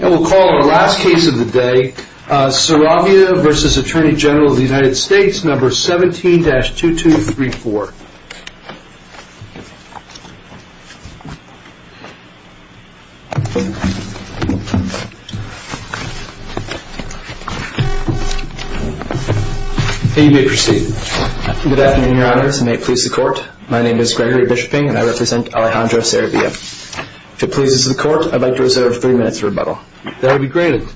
17-2234 Good afternoon, Your Honors. And may it please the Court, my name is Gregory Bishoping and I represent Alejandro Saravia. If it pleases the Court, I'd like to reserve three minutes of rebuttal. That would be great. Your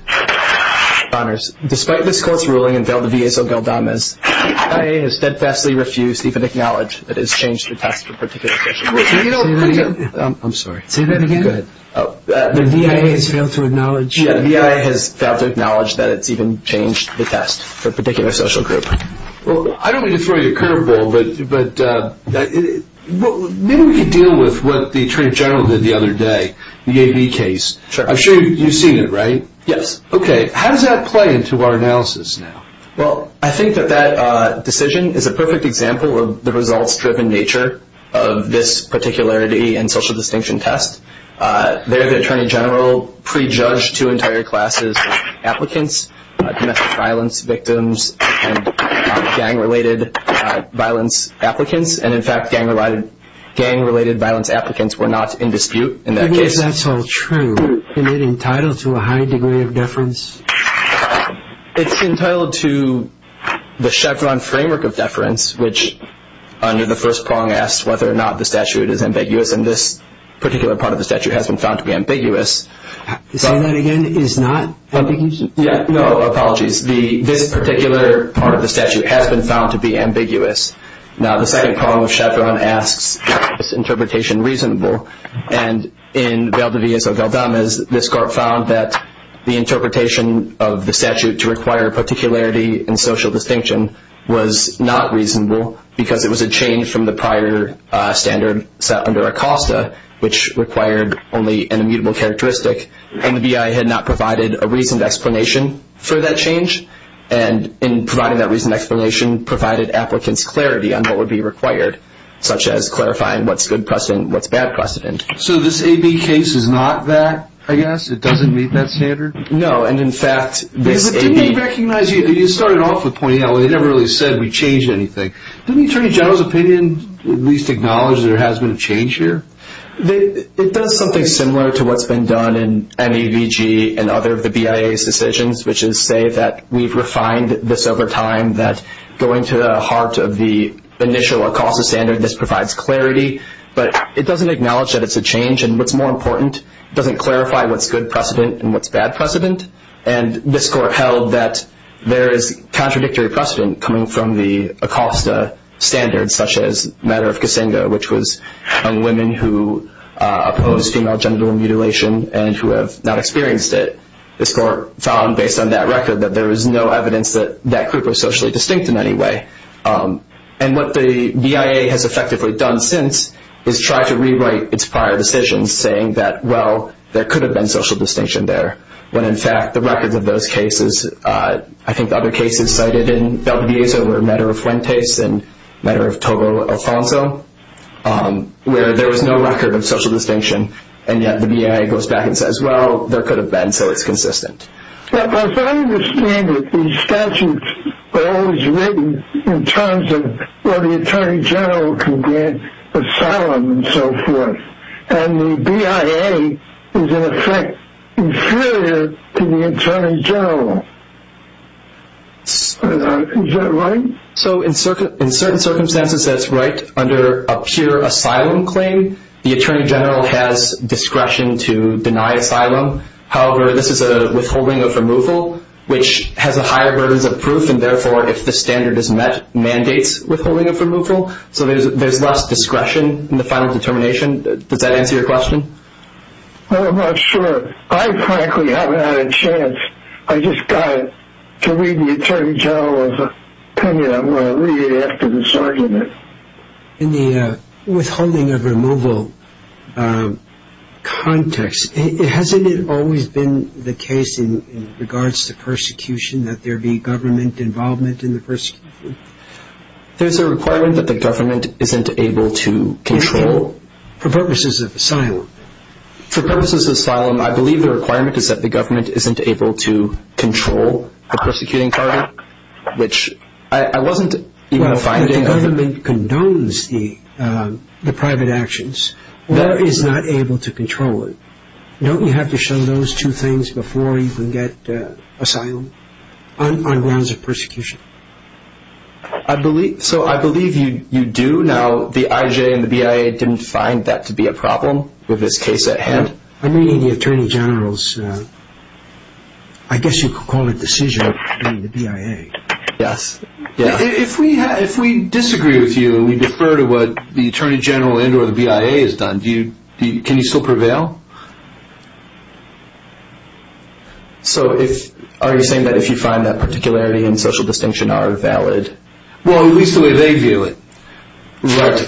Honors, despite this Court's ruling and failed V.A.'s Ogaldamez, the V.I.A. has steadfastly refused even to acknowledge that it has changed the test for a particular social group. Say that again? I'm sorry. Say that again? Go ahead. The V.I.A. has failed to acknowledge Yeah, the V.I.A. has failed to acknowledge that it's even changed the test for a particular social group. Well, I don't mean to throw you a curveball, but maybe we could deal with what the Attorney General did the other day, the A.V. case. I'm sure you've seen it, right? Yes. Okay, how does that play into our analysis now? Well, I think that that decision is a perfect example of the results-driven nature of this particularity and social distinction test. There the Attorney General prejudged two entire classes of applicants, domestic violence victims and gang-related violence applicants. And, in fact, gang-related violence applicants were not in dispute in that case. Even if that's all true, isn't it entitled to a high degree of deference? It's entitled to the Chevron framework of deference, which under the first prong asks whether or not the statute is ambiguous. And this particular part of the statute has been found to be ambiguous. Say that again? Is not ambiguous? No, apologies. This particular part of the statute has been found to be ambiguous. Now, the second prong of Chevron asks, is this interpretation reasonable? And in Valdiviezo-Galdamez, this court found that the interpretation of the statute to require particularity and social distinction was not reasonable because it was a change from the prior standard set under ACOSTA, which required only an immutable characteristic. And the BI had not provided a reasoned explanation for that change. And in providing that reasoned explanation provided applicants clarity on what would be required, such as clarifying what's good precedent and what's bad precedent. So this AB case is not that, I guess? It doesn't meet that standard? No. And, in fact, this AB- But didn't they recognize you? You started off with pointing out they never really said that we changed anything. Didn't Attorney General's opinion at least acknowledge that there has been a change here? It does something similar to what's been done in MEVG and other of the BIA's decisions, which is say that we've refined this over time, that going to the heart of the initial ACOSTA standard, this provides clarity. But it doesn't acknowledge that it's a change. And what's more important, it doesn't clarify what's good precedent and what's bad precedent. And this Court held that there is contradictory precedent coming from the ACOSTA standard, such as the matter of Kasinga, which was on women who opposed female genital mutilation and who have not experienced it. This Court found, based on that record, that there was no evidence that that group was socially distinct in any way. And what the BIA has effectively done since is try to rewrite its prior decisions, saying that, well, there could have been social distinction there. When, in fact, the records of those cases, I think the other cases cited in WBA's over matter of Fuentes and matter of Togo Alfonso, where there was no record of social distinction, and yet the BIA goes back and says, well, there could have been, so it's consistent. Now, as I understand it, these statutes were always written in terms of, well, the Attorney General can grant asylum and so forth. And the BIA is, in effect, inferior to the Attorney General. Is that right? So in certain circumstances, that's right. Under a pure asylum claim, the Attorney General has discretion to deny asylum. However, this is a withholding of removal, which has a higher burden of proof, and therefore, if the standard is met, mandates withholding of removal. So there's less discretion in the final determination. Does that answer your question? I'm not sure. I frankly haven't had a chance. I just got to read the Attorney General's opinion. I'm going to read it after this argument. In the withholding of removal context, hasn't it always been the case in regards to persecution that there be government involvement in the persecution? There's a requirement that the government isn't able to control. For purposes of asylum. For purposes of asylum, I believe the requirement is that the government isn't able to control the persecuting target, which I wasn't even finding. Well, if the government condones the private actions or is not able to control it, don't you have to show those two things before you can get asylum on grounds of persecution? So I believe you do. Now, the IJ and the BIA didn't find that to be a problem with this case at hand? I'm reading the Attorney General's, I guess you could call it decision of the BIA. Yes. If we disagree with you, we defer to what the Attorney General and or the BIA has done. Can you still prevail? So are you saying that if you find that particularity and social distinction are valid? Well, at least the way they view it. Right.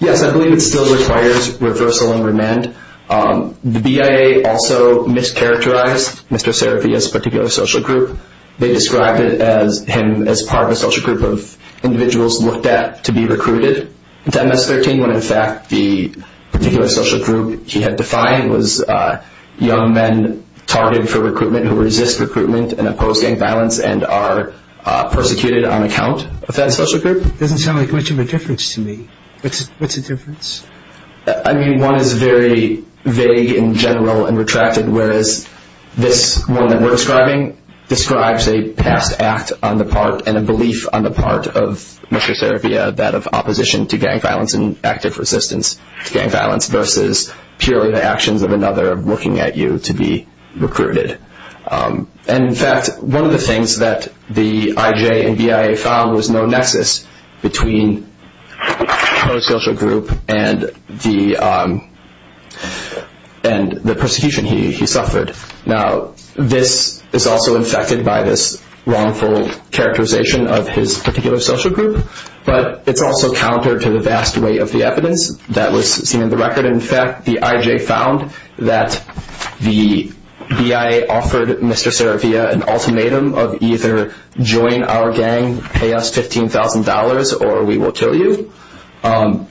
Yes, I believe it still requires reversal and remand. The BIA also mischaracterized Mr. Serafi as a particular social group. They described him as part of a social group of individuals looked at to be recruited. In fact, the particular social group he had defined was young men targeted for recruitment who resist recruitment and oppose gang violence and are persecuted on account of that social group. It doesn't sound like much of a difference to me. What's the difference? I mean, one is very vague in general and retracted, whereas this one that we're describing describes a past act on the part and a belief on the part of Mr. Serafi, that of opposition to gang violence and active resistance to gang violence versus purely the actions of another looking at you to be recruited. And, in fact, one of the things that the IJ and BIA found was no nexus between the social group and the persecution he suffered. Now, this is also infected by this wrongful characterization of his particular social group, but it's also counter to the vast weight of the evidence that was seen in the record. In fact, the IJ found that the BIA offered Mr. Serafi an ultimatum of either join our gang, pay us $15,000, or we will kill you. Now,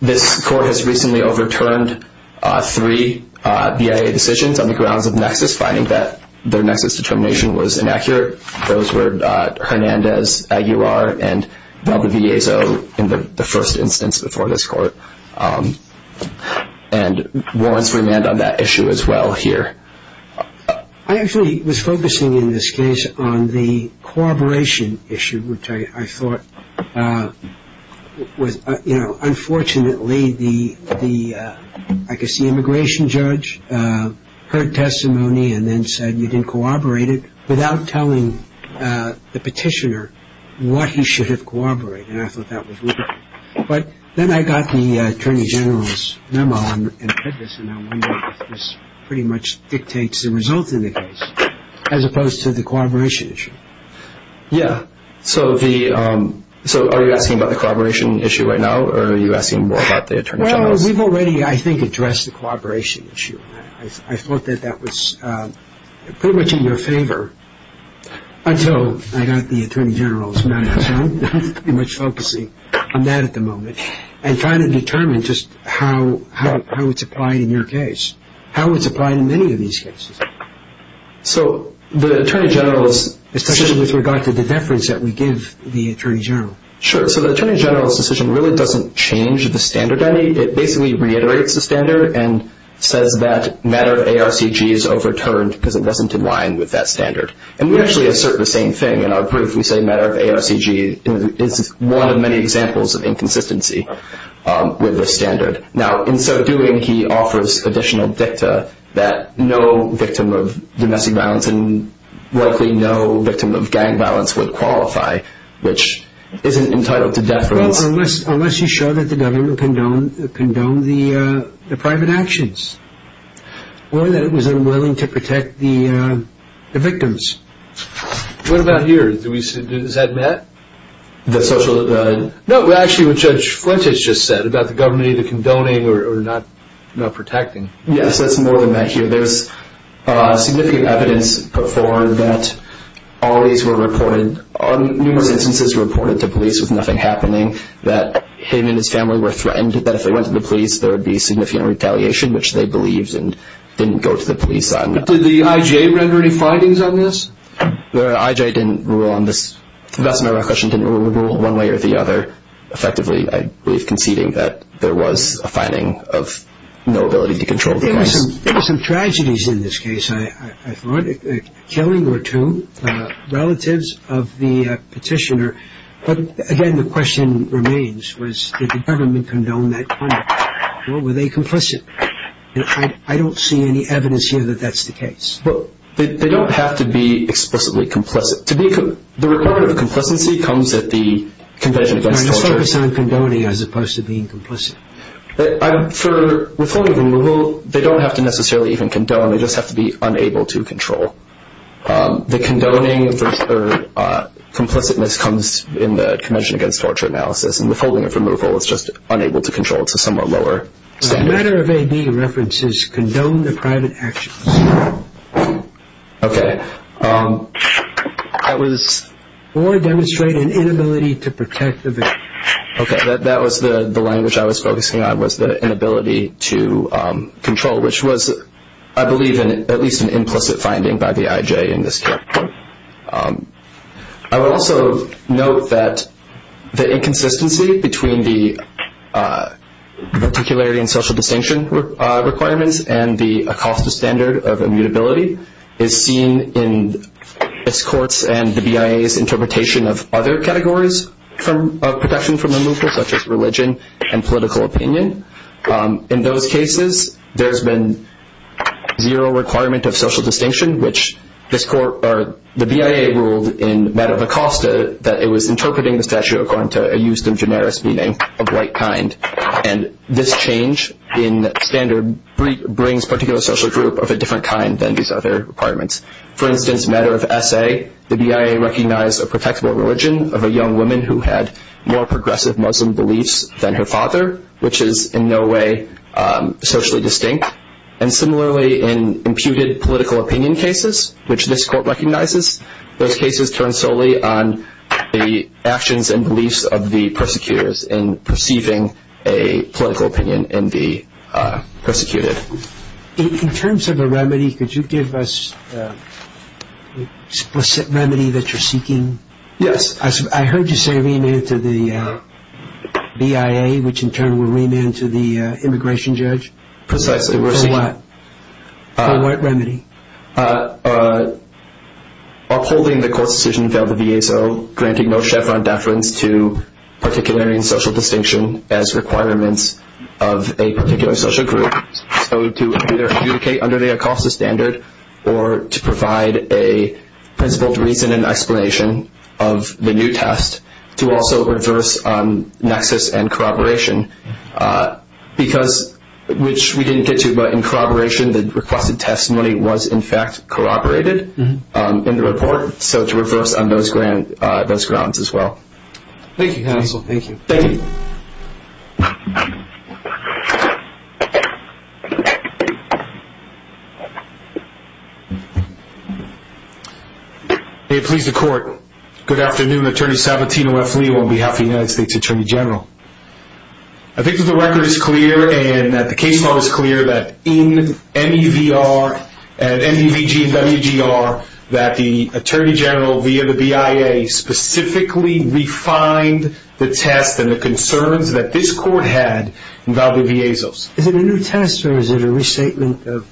this court has recently overturned three BIA decisions on the grounds of nexus, finding that their nexus determination was inaccurate. Those were Hernandez, Aguirre, and Valdiviezo in the first instance before this court. And warrants for remand on that issue as well here. I actually was focusing in this case on the corroboration issue, which I thought was, you know, unfortunately the immigration judge heard testimony and then said you didn't corroborate it without telling the petitioner what he should have corroborated. And I thought that was ludicrous. But then I got the Attorney General's memo and read this, and I wondered if this pretty much dictates the results in the case as opposed to the corroboration issue. Yeah. So are you asking about the corroboration issue right now, or are you asking more about the Attorney General's? Well, we've already, I think, addressed the corroboration issue. I thought that that was pretty much in your favor until I got the Attorney General's memo. So I'm pretty much focusing on that at the moment and trying to determine just how it's applied in your case, how it's applied in many of these cases. So the Attorney General's decision. Especially with regard to the deference that we give the Attorney General. Sure. So the Attorney General's decision really doesn't change the standard any. It basically reiterates the standard and says that matter of ARCG is overturned because it wasn't in line with that standard. And we actually assert the same thing. In our brief, we say matter of ARCG is one of many examples of inconsistency with this standard. Now, in so doing, he offers additional dicta that no victim of domestic violence and likely no victim of gang violence would qualify, which isn't entitled to deference. Well, unless you show that the government condoned the private actions What about here? Is that met? No, actually what Judge Flint has just said about the government either condoning or not protecting. Yes, that's more than met here. There's significant evidence put forward that all these were reported. Numerous instances were reported to police with nothing happening. That him and his family were threatened that if they went to the police, there would be significant retaliation, which they believed and didn't go to the police on. Did the I.G.A. render any findings on this? The I.G.A. didn't rule on this. The Vestmire Reflection didn't rule one way or the other. Effectively, I believe conceding that there was a finding of no ability to control the police. There were some tragedies in this case, I thought. Killing were two. Relatives of the petitioner. But again, the question remains was did the government condone that crime? Or were they complicit? I don't see any evidence here that that's the case. They don't have to be explicitly complicit. The report of complacency comes at the Convention Against Torture. Just focus on condoning as opposed to being complicit. For withholding of removal, they don't have to necessarily even condone. They just have to be unable to control. The condoning or complicitness comes in the Convention Against Torture analysis. And withholding of removal is just unable to control. It's a somewhat lower standard. Matter of A.D. references condone the private actions. Okay. Or demonstrate an inability to protect the victim. Okay, that was the language I was focusing on was the inability to control, which was, I believe, at least an implicit finding by the I.G.A. in this case. I would also note that the inconsistency between the particularity and social distinction requirements and the ACOSTA standard of immutability is seen in its courts and the BIA's interpretation of other categories of protection from removal, such as religion and political opinion. In those cases, there's been zero requirement of social distinction, which the BIA ruled in matter of ACOSTA that it was interpreting the statute according to a justum generis meaning of white kind. And this change in standard brings particular social group of a different kind than these other requirements. For instance, matter of S.A., the BIA recognized a protectable religion of a young woman who had more progressive Muslim beliefs than her father, which is in no way socially distinct. And similarly, in imputed political opinion cases, which this court recognizes, those cases turn solely on the actions and beliefs of the persecutors in perceiving a political opinion in the persecuted. In terms of a remedy, could you give us an explicit remedy that you're seeking? Yes. I heard you say remand to the BIA, which in turn will remand to the immigration judge. Precisely. For what remedy? Upholding the court's decision to fail the VASO, granting no chevron deference to particularity and social distinction as requirements of a particular social group. So to either adjudicate under the ACOSTA standard or to provide a principled reason and explanation of the new test, to also reverse nexus and corroboration. Because, which we didn't get to, but in corroboration, the requested testimony was in fact corroborated in the report. So to reverse on those grounds as well. Thank you, counsel. Thank you. Thank you. May it please the court. Good afternoon. Attorney Sabatino F. Leo on behalf of the United States Attorney General. I think that the record is clear and that the case law is clear that in MEVR and MEVG and WGR that the Attorney General via the BIA specifically refined the test and the concerns that this court had involving VASOs. Is it a new test or is it a restatement of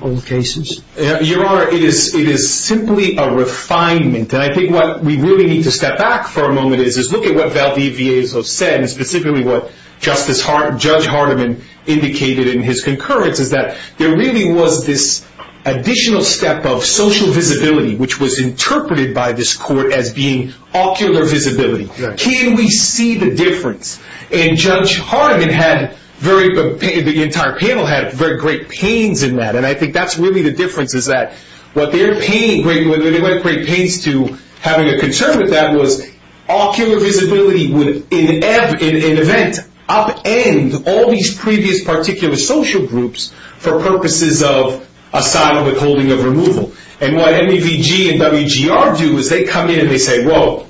old cases? Your Honor, it is simply a refinement. And I think what we really need to step back for a moment is look at what Valdez-Viezo said and specifically what Judge Hardeman indicated in his concurrence is that there really was this additional step of social visibility, which was interpreted by this court as being ocular visibility. Can we see the difference? And Judge Hardeman had very, the entire panel had very great pains in that. And I think that's really the difference is that what their pain, what they had great pains to having a concern with that was ocular visibility would in an event upend all these previous particular social groups for purposes of asylum withholding of removal. And what MEVG and WGR do is they come in and they say, whoa,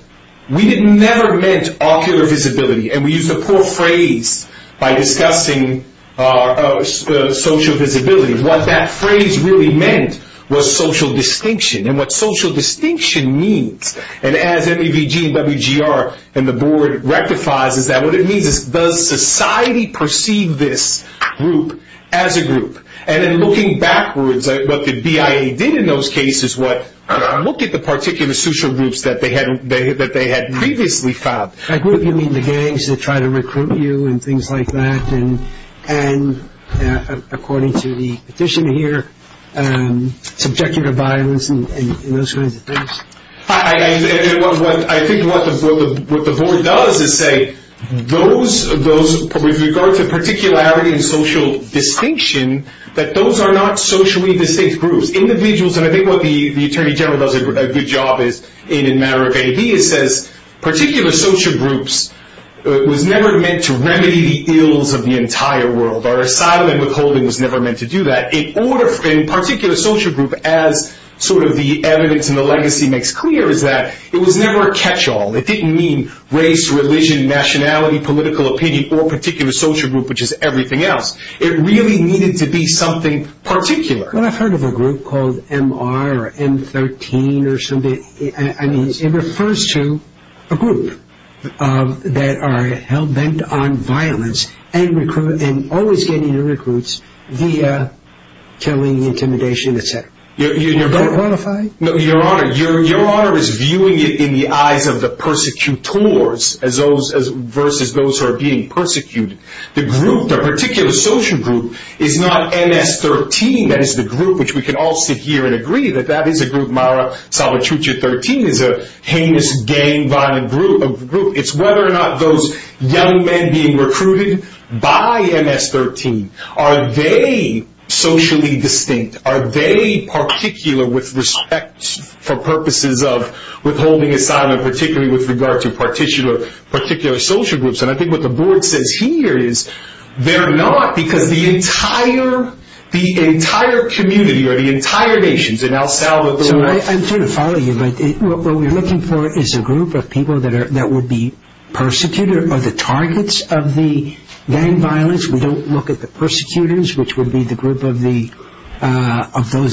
we never meant ocular visibility and we used a poor phrase by discussing social visibility. What that phrase really meant was social distinction. And what social distinction means, and as MEVG and WGR and the board rectifies, is that what it means is does society perceive this group as a group? And in looking backwards, what the BIA did in those cases was look at the particular social groups that they had previously filed. By group you mean the gangs that try to recruit you and things like that. And according to the petition here, subjective violence and those kinds of things. I think what the board does is say those, with regard to particularity and social distinction, that those are not socially distinct groups. Individuals, and I think what the Attorney General does a good job is in MEVG, he says particular social groups was never meant to remedy the ills of the entire world. Our asylum withholding was never meant to do that. In particular social groups, as sort of the evidence and the legacy makes clear, is that it was never a catch-all. It didn't mean race, religion, nationality, political opinion, or particular social group, which is everything else. It really needed to be something particular. Well, I've heard of a group called MR or M13 or something. It refers to a group that are hell-bent on violence and always getting new recruits via killing, intimidation, etc. Do I qualify? No, Your Honor. Your Honor is viewing it in the eyes of the persecutors versus those who are being persecuted. The group, the particular social group, is not MS13, that is the group, which we can all sit here and agree that that is a group. Mara Salvatrucha 13 is a heinous, gang-violent group. It's whether or not those young men being recruited by MS13, are they socially distinct? Are they particular with respect for purposes of withholding asylum, particularly with regard to particular social groups? And I think what the Board says here is they're not because the entire community or the entire nations in El Salvador. So I'm trying to follow you, but what we're looking for is a group of people that would be persecuted or the targets of the gang violence. We don't look at the persecutors, which would be the group of those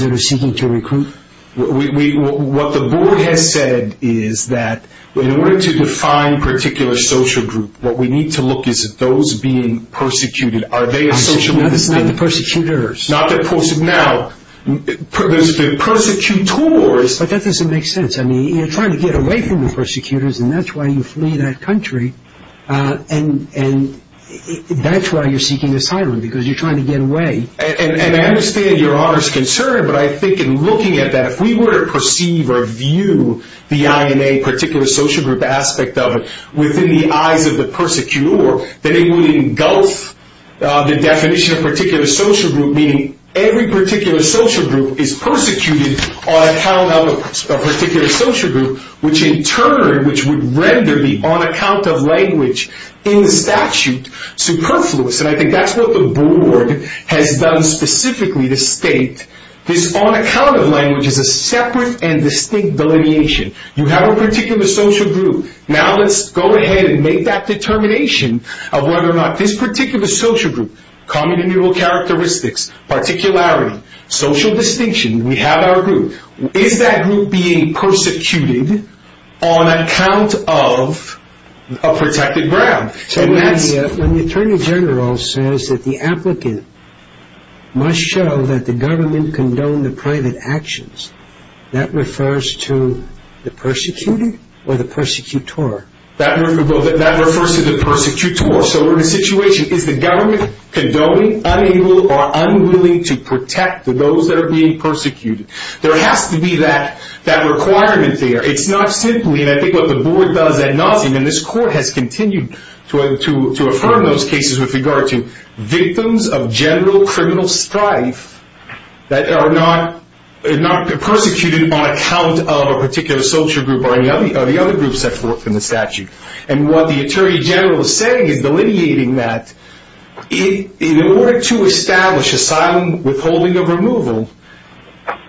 that are seeking to recruit. What the Board has said is that in order to define particular social group, what we need to look is at those being persecuted. Are they socially distinct? Not the persecutors. Not the persecutors. But that doesn't make sense. I mean, you're trying to get away from the persecutors, and that's why you flee that country. And that's why you're seeking asylum, because you're trying to get away. And I understand Your Honor's concern, but I think in looking at that, if we were to perceive or view the INA, particular social group aspect of it, within the eyes of the persecutor, then it would engulf the definition of particular social group, meaning every particular social group is persecuted on account of a particular social group, which in turn would render the on account of language in the statute superfluous. And I think that's what the Board has done specifically to state. This on account of language is a separate and distinct delineation. You have a particular social group. Now let's go ahead and make that determination of whether or not this particular social group, common immutable characteristics, particularity, social distinction, we have our group. Is that group being persecuted on account of a protected ground? When the Attorney General says that the applicant must show that the government condoned the private actions, that refers to the persecuted or the persecutor? That refers to the persecutor. So we're in a situation, is the government condoning, unable, or unwilling to protect those that are being persecuted? There has to be that requirement there. It's not simply, and I think what the Board does at nauseam, and this Court has continued to affirm those cases with regard to victims of general criminal strife that are not persecuted on account of a particular social group or any of the other groups that work in the statute. And what the Attorney General is saying is delineating that. In order to establish asylum withholding of removal,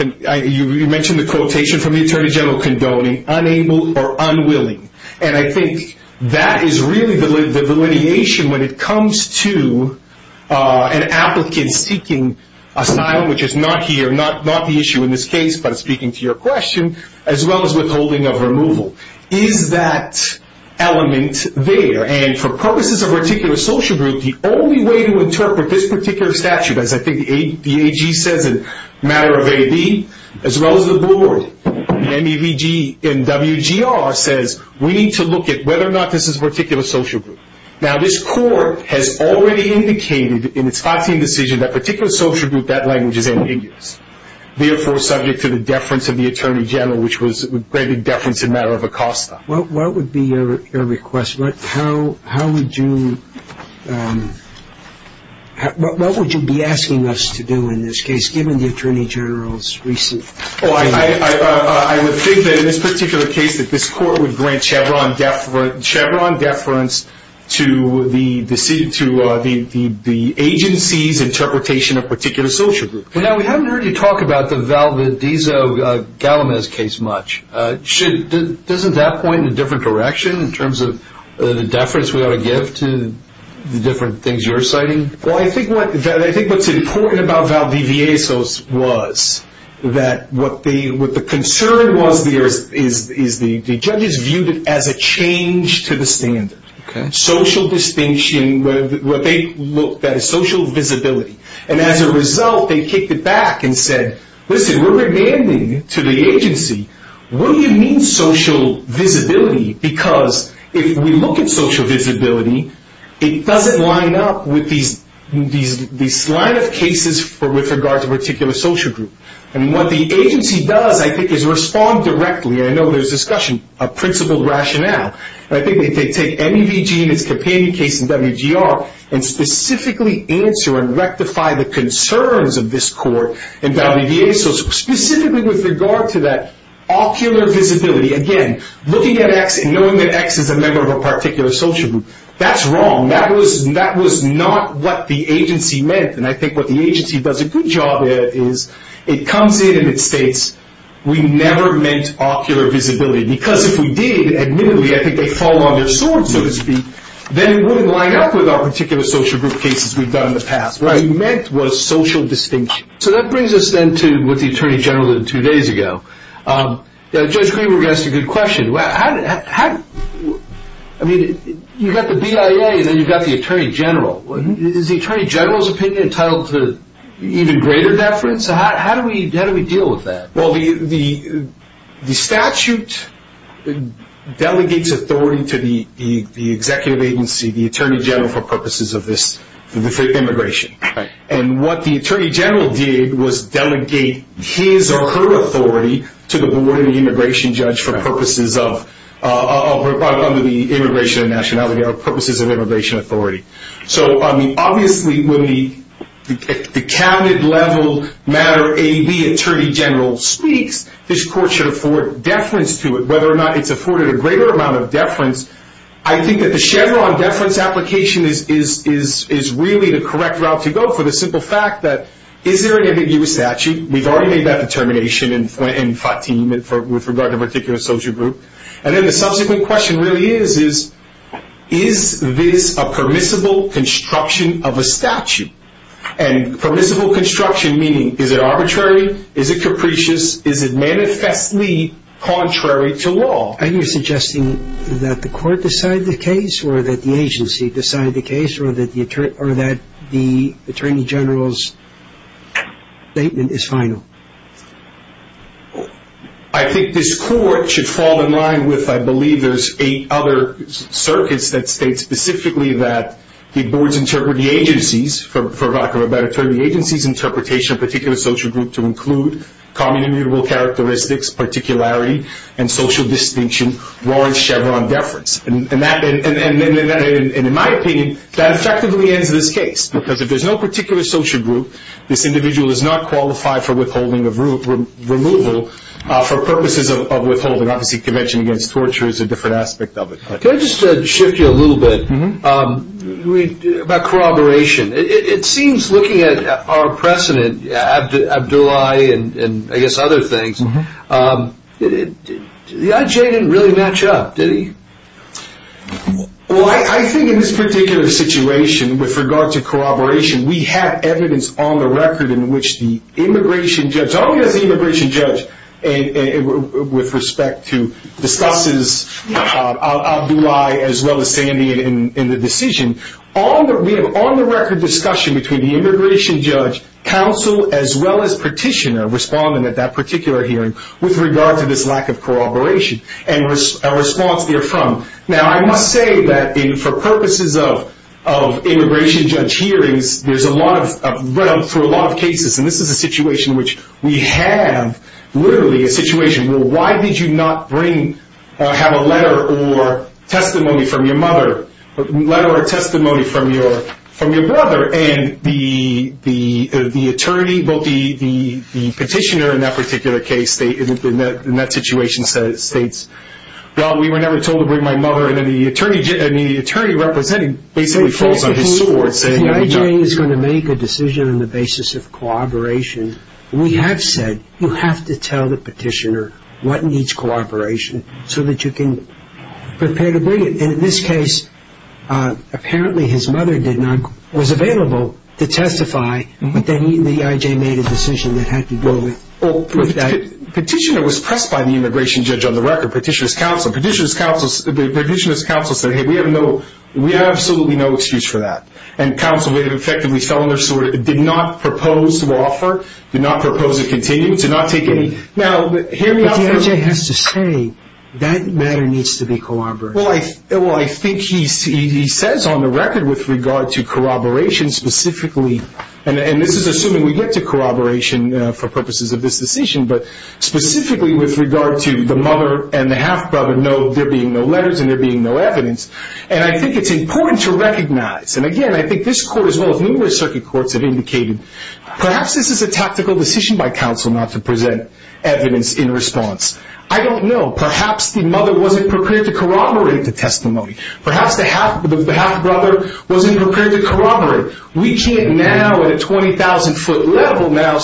you mentioned the quotation from the Attorney General condoning, unable or unwilling. And I think that is really the delineation when it comes to an applicant seeking asylum, which is not here, not the issue in this case, but speaking to your question, as well as withholding of removal. Is that element there? And for purposes of a particular social group, the only way to interpret this particular statute, as I think the AG says in matter of AB, as well as the Board, the MEVG and WGR says we need to look at whether or not this is a particular social group. Now, this Court has already indicated in its Fox team decision that particular social group, that language is ambiguous. Therefore, subject to the deference of the Attorney General, which was a great big deference in matter of ACOSTA. What would be your request? What would you be asking us to do in this case, given the Attorney General's recent? I would think that in this particular case that this Court would grant Chevron deference to the agency's interpretation of particular social group. Now, we haven't heard you talk about the Valdezzo-Galamez case much. Doesn't that point in a different direction in terms of the deference we ought to give to the different things you're citing? Well, I think what's important about Valdezzo-Galamez was that what the concern was there is the judges viewed it as a change to the standard. Social distinction, that is social visibility. As a result, they kicked it back and said, listen, we're demanding to the agency, what do you mean social visibility? Because if we look at social visibility, it doesn't line up with these line of cases with regard to particular social group. What the agency does, I think, is respond directly. I know there's discussion of principled rationale. I think they take MEVG and its companion case in WGR and specifically answer and rectify the concerns of this Court in WVA. So specifically with regard to that ocular visibility, again, looking at X and knowing that X is a member of a particular social group, that's wrong. That was not what the agency meant. And I think what the agency does a good job at is it comes in and it states, we never meant ocular visibility. Because if we did, admittedly, I think they fall on their swords, so to speak. Then it wouldn't line up with our particular social group cases we've done in the past. What we meant was social distinction. So that brings us then to what the Attorney General did two days ago. Judge Greenberg asked a good question. You've got the BIA and then you've got the Attorney General. Is the Attorney General's opinion entitled to even greater deference? How do we deal with that? Well, the statute delegates authority to the executive agency, the Attorney General, for purposes of this immigration. And what the Attorney General did was delegate his or her authority to the Board of the Immigration Judge for purposes of, under the Immigration and Nationality Act, purposes of immigration authority. So, obviously, when the cabinet level matter AB Attorney General speaks, this court should afford deference to it. Whether or not it's afforded a greater amount of deference, I think that the Chevron deference application is really the correct route to go for the simple fact that is there an ambiguous statute? We've already made that determination in Fatim with regard to a particular social group. And then the subsequent question really is, is this a permissible construction of a statute? And permissible construction meaning is it arbitrary, is it capricious, is it manifestly contrary to law? Are you suggesting that the court decide the case or that the agency decide the case or that the Attorney General's statement is final? I think this court should fall in line with, I believe, there's eight other circuits that state specifically that the boards interpret the agencies, for lack of a better term, the agency's interpretation of a particular social group to include common immutable characteristics, particularity, and social distinction warrant Chevron deference. And in my opinion, that effectively ends this case. Because if there's no particular social group, this individual is not qualified for withholding or removal for purposes of withholding. Obviously, convention against torture is a different aspect of it. Can I just shift you a little bit about corroboration? It seems looking at our precedent, Abdoulaye and I guess other things, the IJ didn't really match up, did he? Well, I think in this particular situation with regard to corroboration, we have evidence on the record in which the immigration judge, only as the immigration judge with respect to discusses Abdoulaye as well as standing in the decision, we have on the record discussion between the immigration judge, counsel, as well as petitioner responding at that particular hearing with regard to this lack of corroboration and a response therefrom. Now, I must say that for purposes of immigration judge hearings, there's a lot of, through a lot of cases, and this is a situation in which we have literally a situation where why did you not bring, have a letter or testimony from your mother, letter or testimony from your brother, and the attorney, the petitioner in that particular case, in that situation states, well, we were never told to bring my mother, and then the attorney representing basically falls on his sword. The IJ is going to make a decision on the basis of corroboration, and we have said you have to tell the petitioner what needs corroboration so that you can prepare to bring it. In this case, apparently his mother did not, was available to testify, but then the IJ made a decision that had to do with that. Petitioner was pressed by the immigration judge on the record, petitioner's counsel. Petitioner's counsel said, hey, we have no, we have absolutely no excuse for that, and counsel effectively fell on their sword, did not propose to offer, did not propose to continue, did not take any. But the IJ has to say that matter needs to be corroborated. Well, I think he says on the record with regard to corroboration specifically, and this is assuming we get to corroboration for purposes of this decision, but specifically with regard to the mother and the half brother, no, there being no letters and there being no evidence, and I think it's important to recognize, and again, I think this court as well as numerous circuit courts have indicated, perhaps this is a tactical decision by counsel not to present evidence in response. I don't know. Perhaps the mother wasn't prepared to corroborate the testimony. Perhaps the half brother wasn't prepared to corroborate. We can't now at a 20,000-foot level now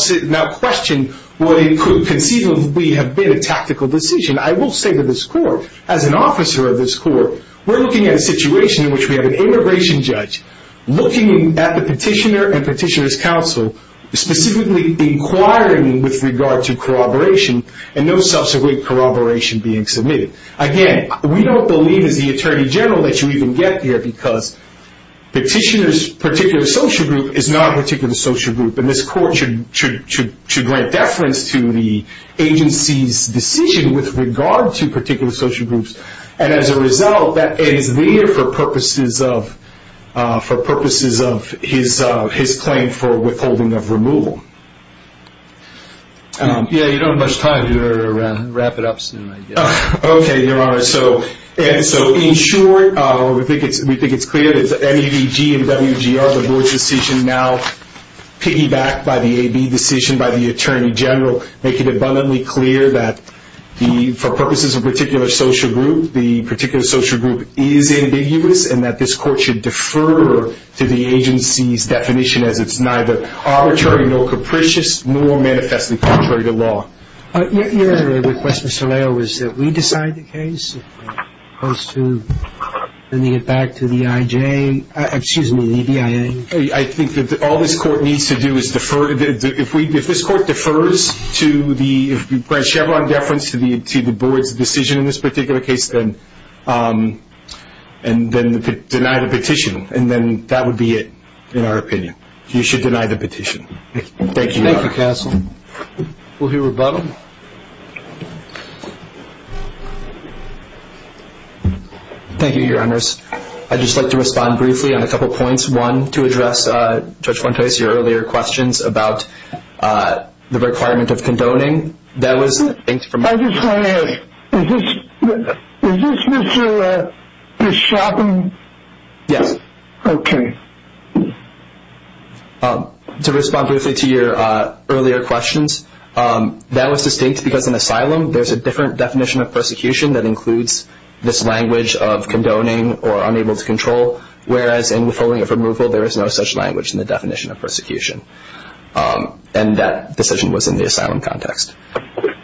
question what it could conceivably have been a tactical decision. I will say to this court, as an officer of this court, we're looking at a situation in which we have an immigration judge looking at the petitioner and petitioner's counsel, specifically inquiring with regard to corroboration and no subsequent corroboration being submitted. Again, we don't believe as the attorney general that you even get there because petitioner's particular social group is not a particular social group, and this court should grant deference to the agency's decision with regard to particular social groups, and as a result, it is there for purposes of his claim for withholding of removal. Yeah, you don't have much time. Wrap it up soon, I guess. Okay, Your Honor. So in short, we think it's clear that the MEDG and WGR, the board's decision, now piggybacked by the AB decision by the attorney general, make it abundantly clear that for purposes of a particular social group, the particular social group is ambiguous, and that this court should defer to the agency's definition as it's neither arbitrary, nor capricious, nor manifestly contrary to law. Your Honor, the request, Mr. Leo, is that we decide the case as opposed to sending it back to the IJ, excuse me, the BIA. I think that all this court needs to do is defer. If this court defers to the grant Chevron deference to the board's decision in this particular case, then deny the petition, and then that would be it in our opinion. You should deny the petition. Thank you, Your Honor. Thank you, counsel. We'll hear rebuttal. Thank you, Your Honors. I'd just like to respond briefly on a couple points. One, to address, Judge Fuentes, your earlier questions about the requirement of condoning. I just want to ask, is this Mr. Bishop? Yes. Okay. To respond briefly to your earlier questions, that was distinct because in asylum, there's a different definition of persecution that includes this language of condoning or unable to control, whereas in withholding of removal, there is no such language in the definition of persecution. And that decision was in the asylum context.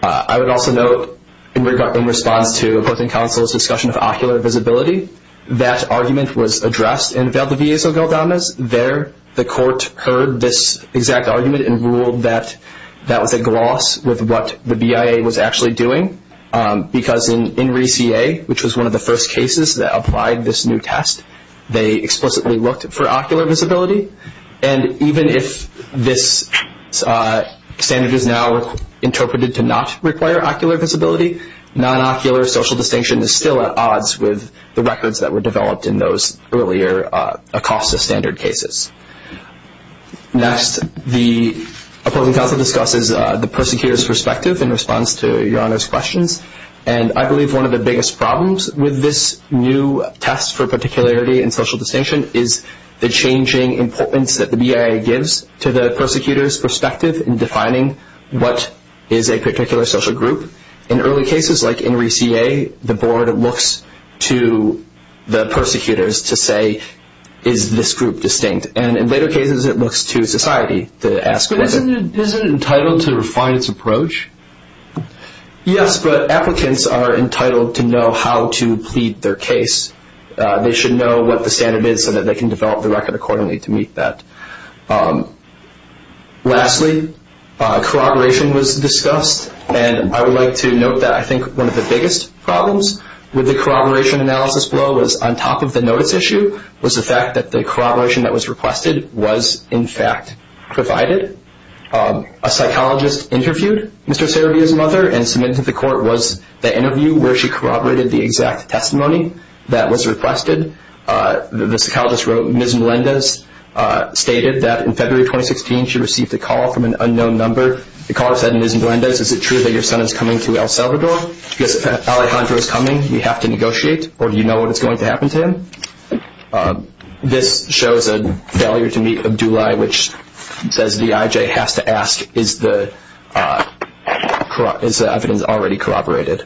I would also note, in response to opposing counsel's discussion of ocular visibility, that argument was addressed in Valdivieso-Galdanas. There, the court heard this exact argument and ruled that that was a gloss with what the BIA was actually doing, because in RE-CA, which was one of the first cases that applied this new test, they explicitly looked for ocular visibility. And even if this standard is now interpreted to not require ocular visibility, non-ocular social distinction is still at odds with the records that were developed in those earlier ACOSTA standard cases. Next, the opposing counsel discusses the persecutor's perspective in response to Your Honor's questions, and I believe one of the biggest problems with this new test for particularity and social distinction is the changing importance that the BIA gives to the persecutor's perspective in defining what is a particular social group. In early cases, like in RE-CA, the board looks to the persecutors to say, is this group distinct? And in later cases, it looks to society to ask whether. Isn't it entitled to refine its approach? Yes, but applicants are entitled to know how to plead their case. They should know what the standard is so that they can develop the record accordingly to meet that. Lastly, corroboration was discussed, and I would like to note that I think one of the biggest problems with the corroboration analysis below was, on top of the notice issue, was the fact that the corroboration that was requested was, in fact, provided. A psychologist interviewed Mr. Saravia's mother and submitted to the court was the interview where she corroborated the exact testimony that was requested. The psychologist wrote, Ms. Melendez stated that in February 2016 she received a call from an unknown number. The caller said, Ms. Melendez, is it true that your son is coming to El Salvador? Yes, Alejandro is coming. Do you have to negotiate, or do you know when it's going to happen to him? This shows a failure to meet Abdulai, which says the IJ has to ask, is the evidence already corroborated?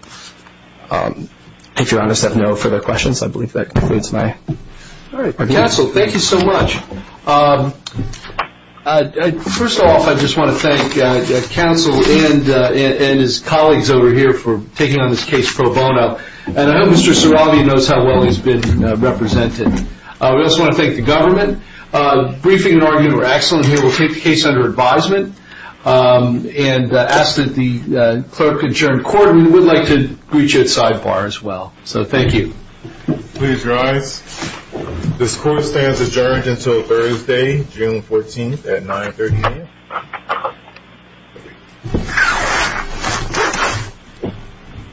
If you're honest, I have no further questions. I believe that concludes my presentation. All right, counsel, thank you so much. First off, I just want to thank counsel and his colleagues over here for taking on this case pro bono, and I hope Mr. Saravia knows how well he's been represented. We also want to thank the government. Briefing and argument were excellent. Here we'll take the case under advisement and ask that the clerk and chair and court would like to greet you at sidebar as well. So thank you. Please rise. This court stands adjourned until Thursday, June 14th at 9.30 a.m.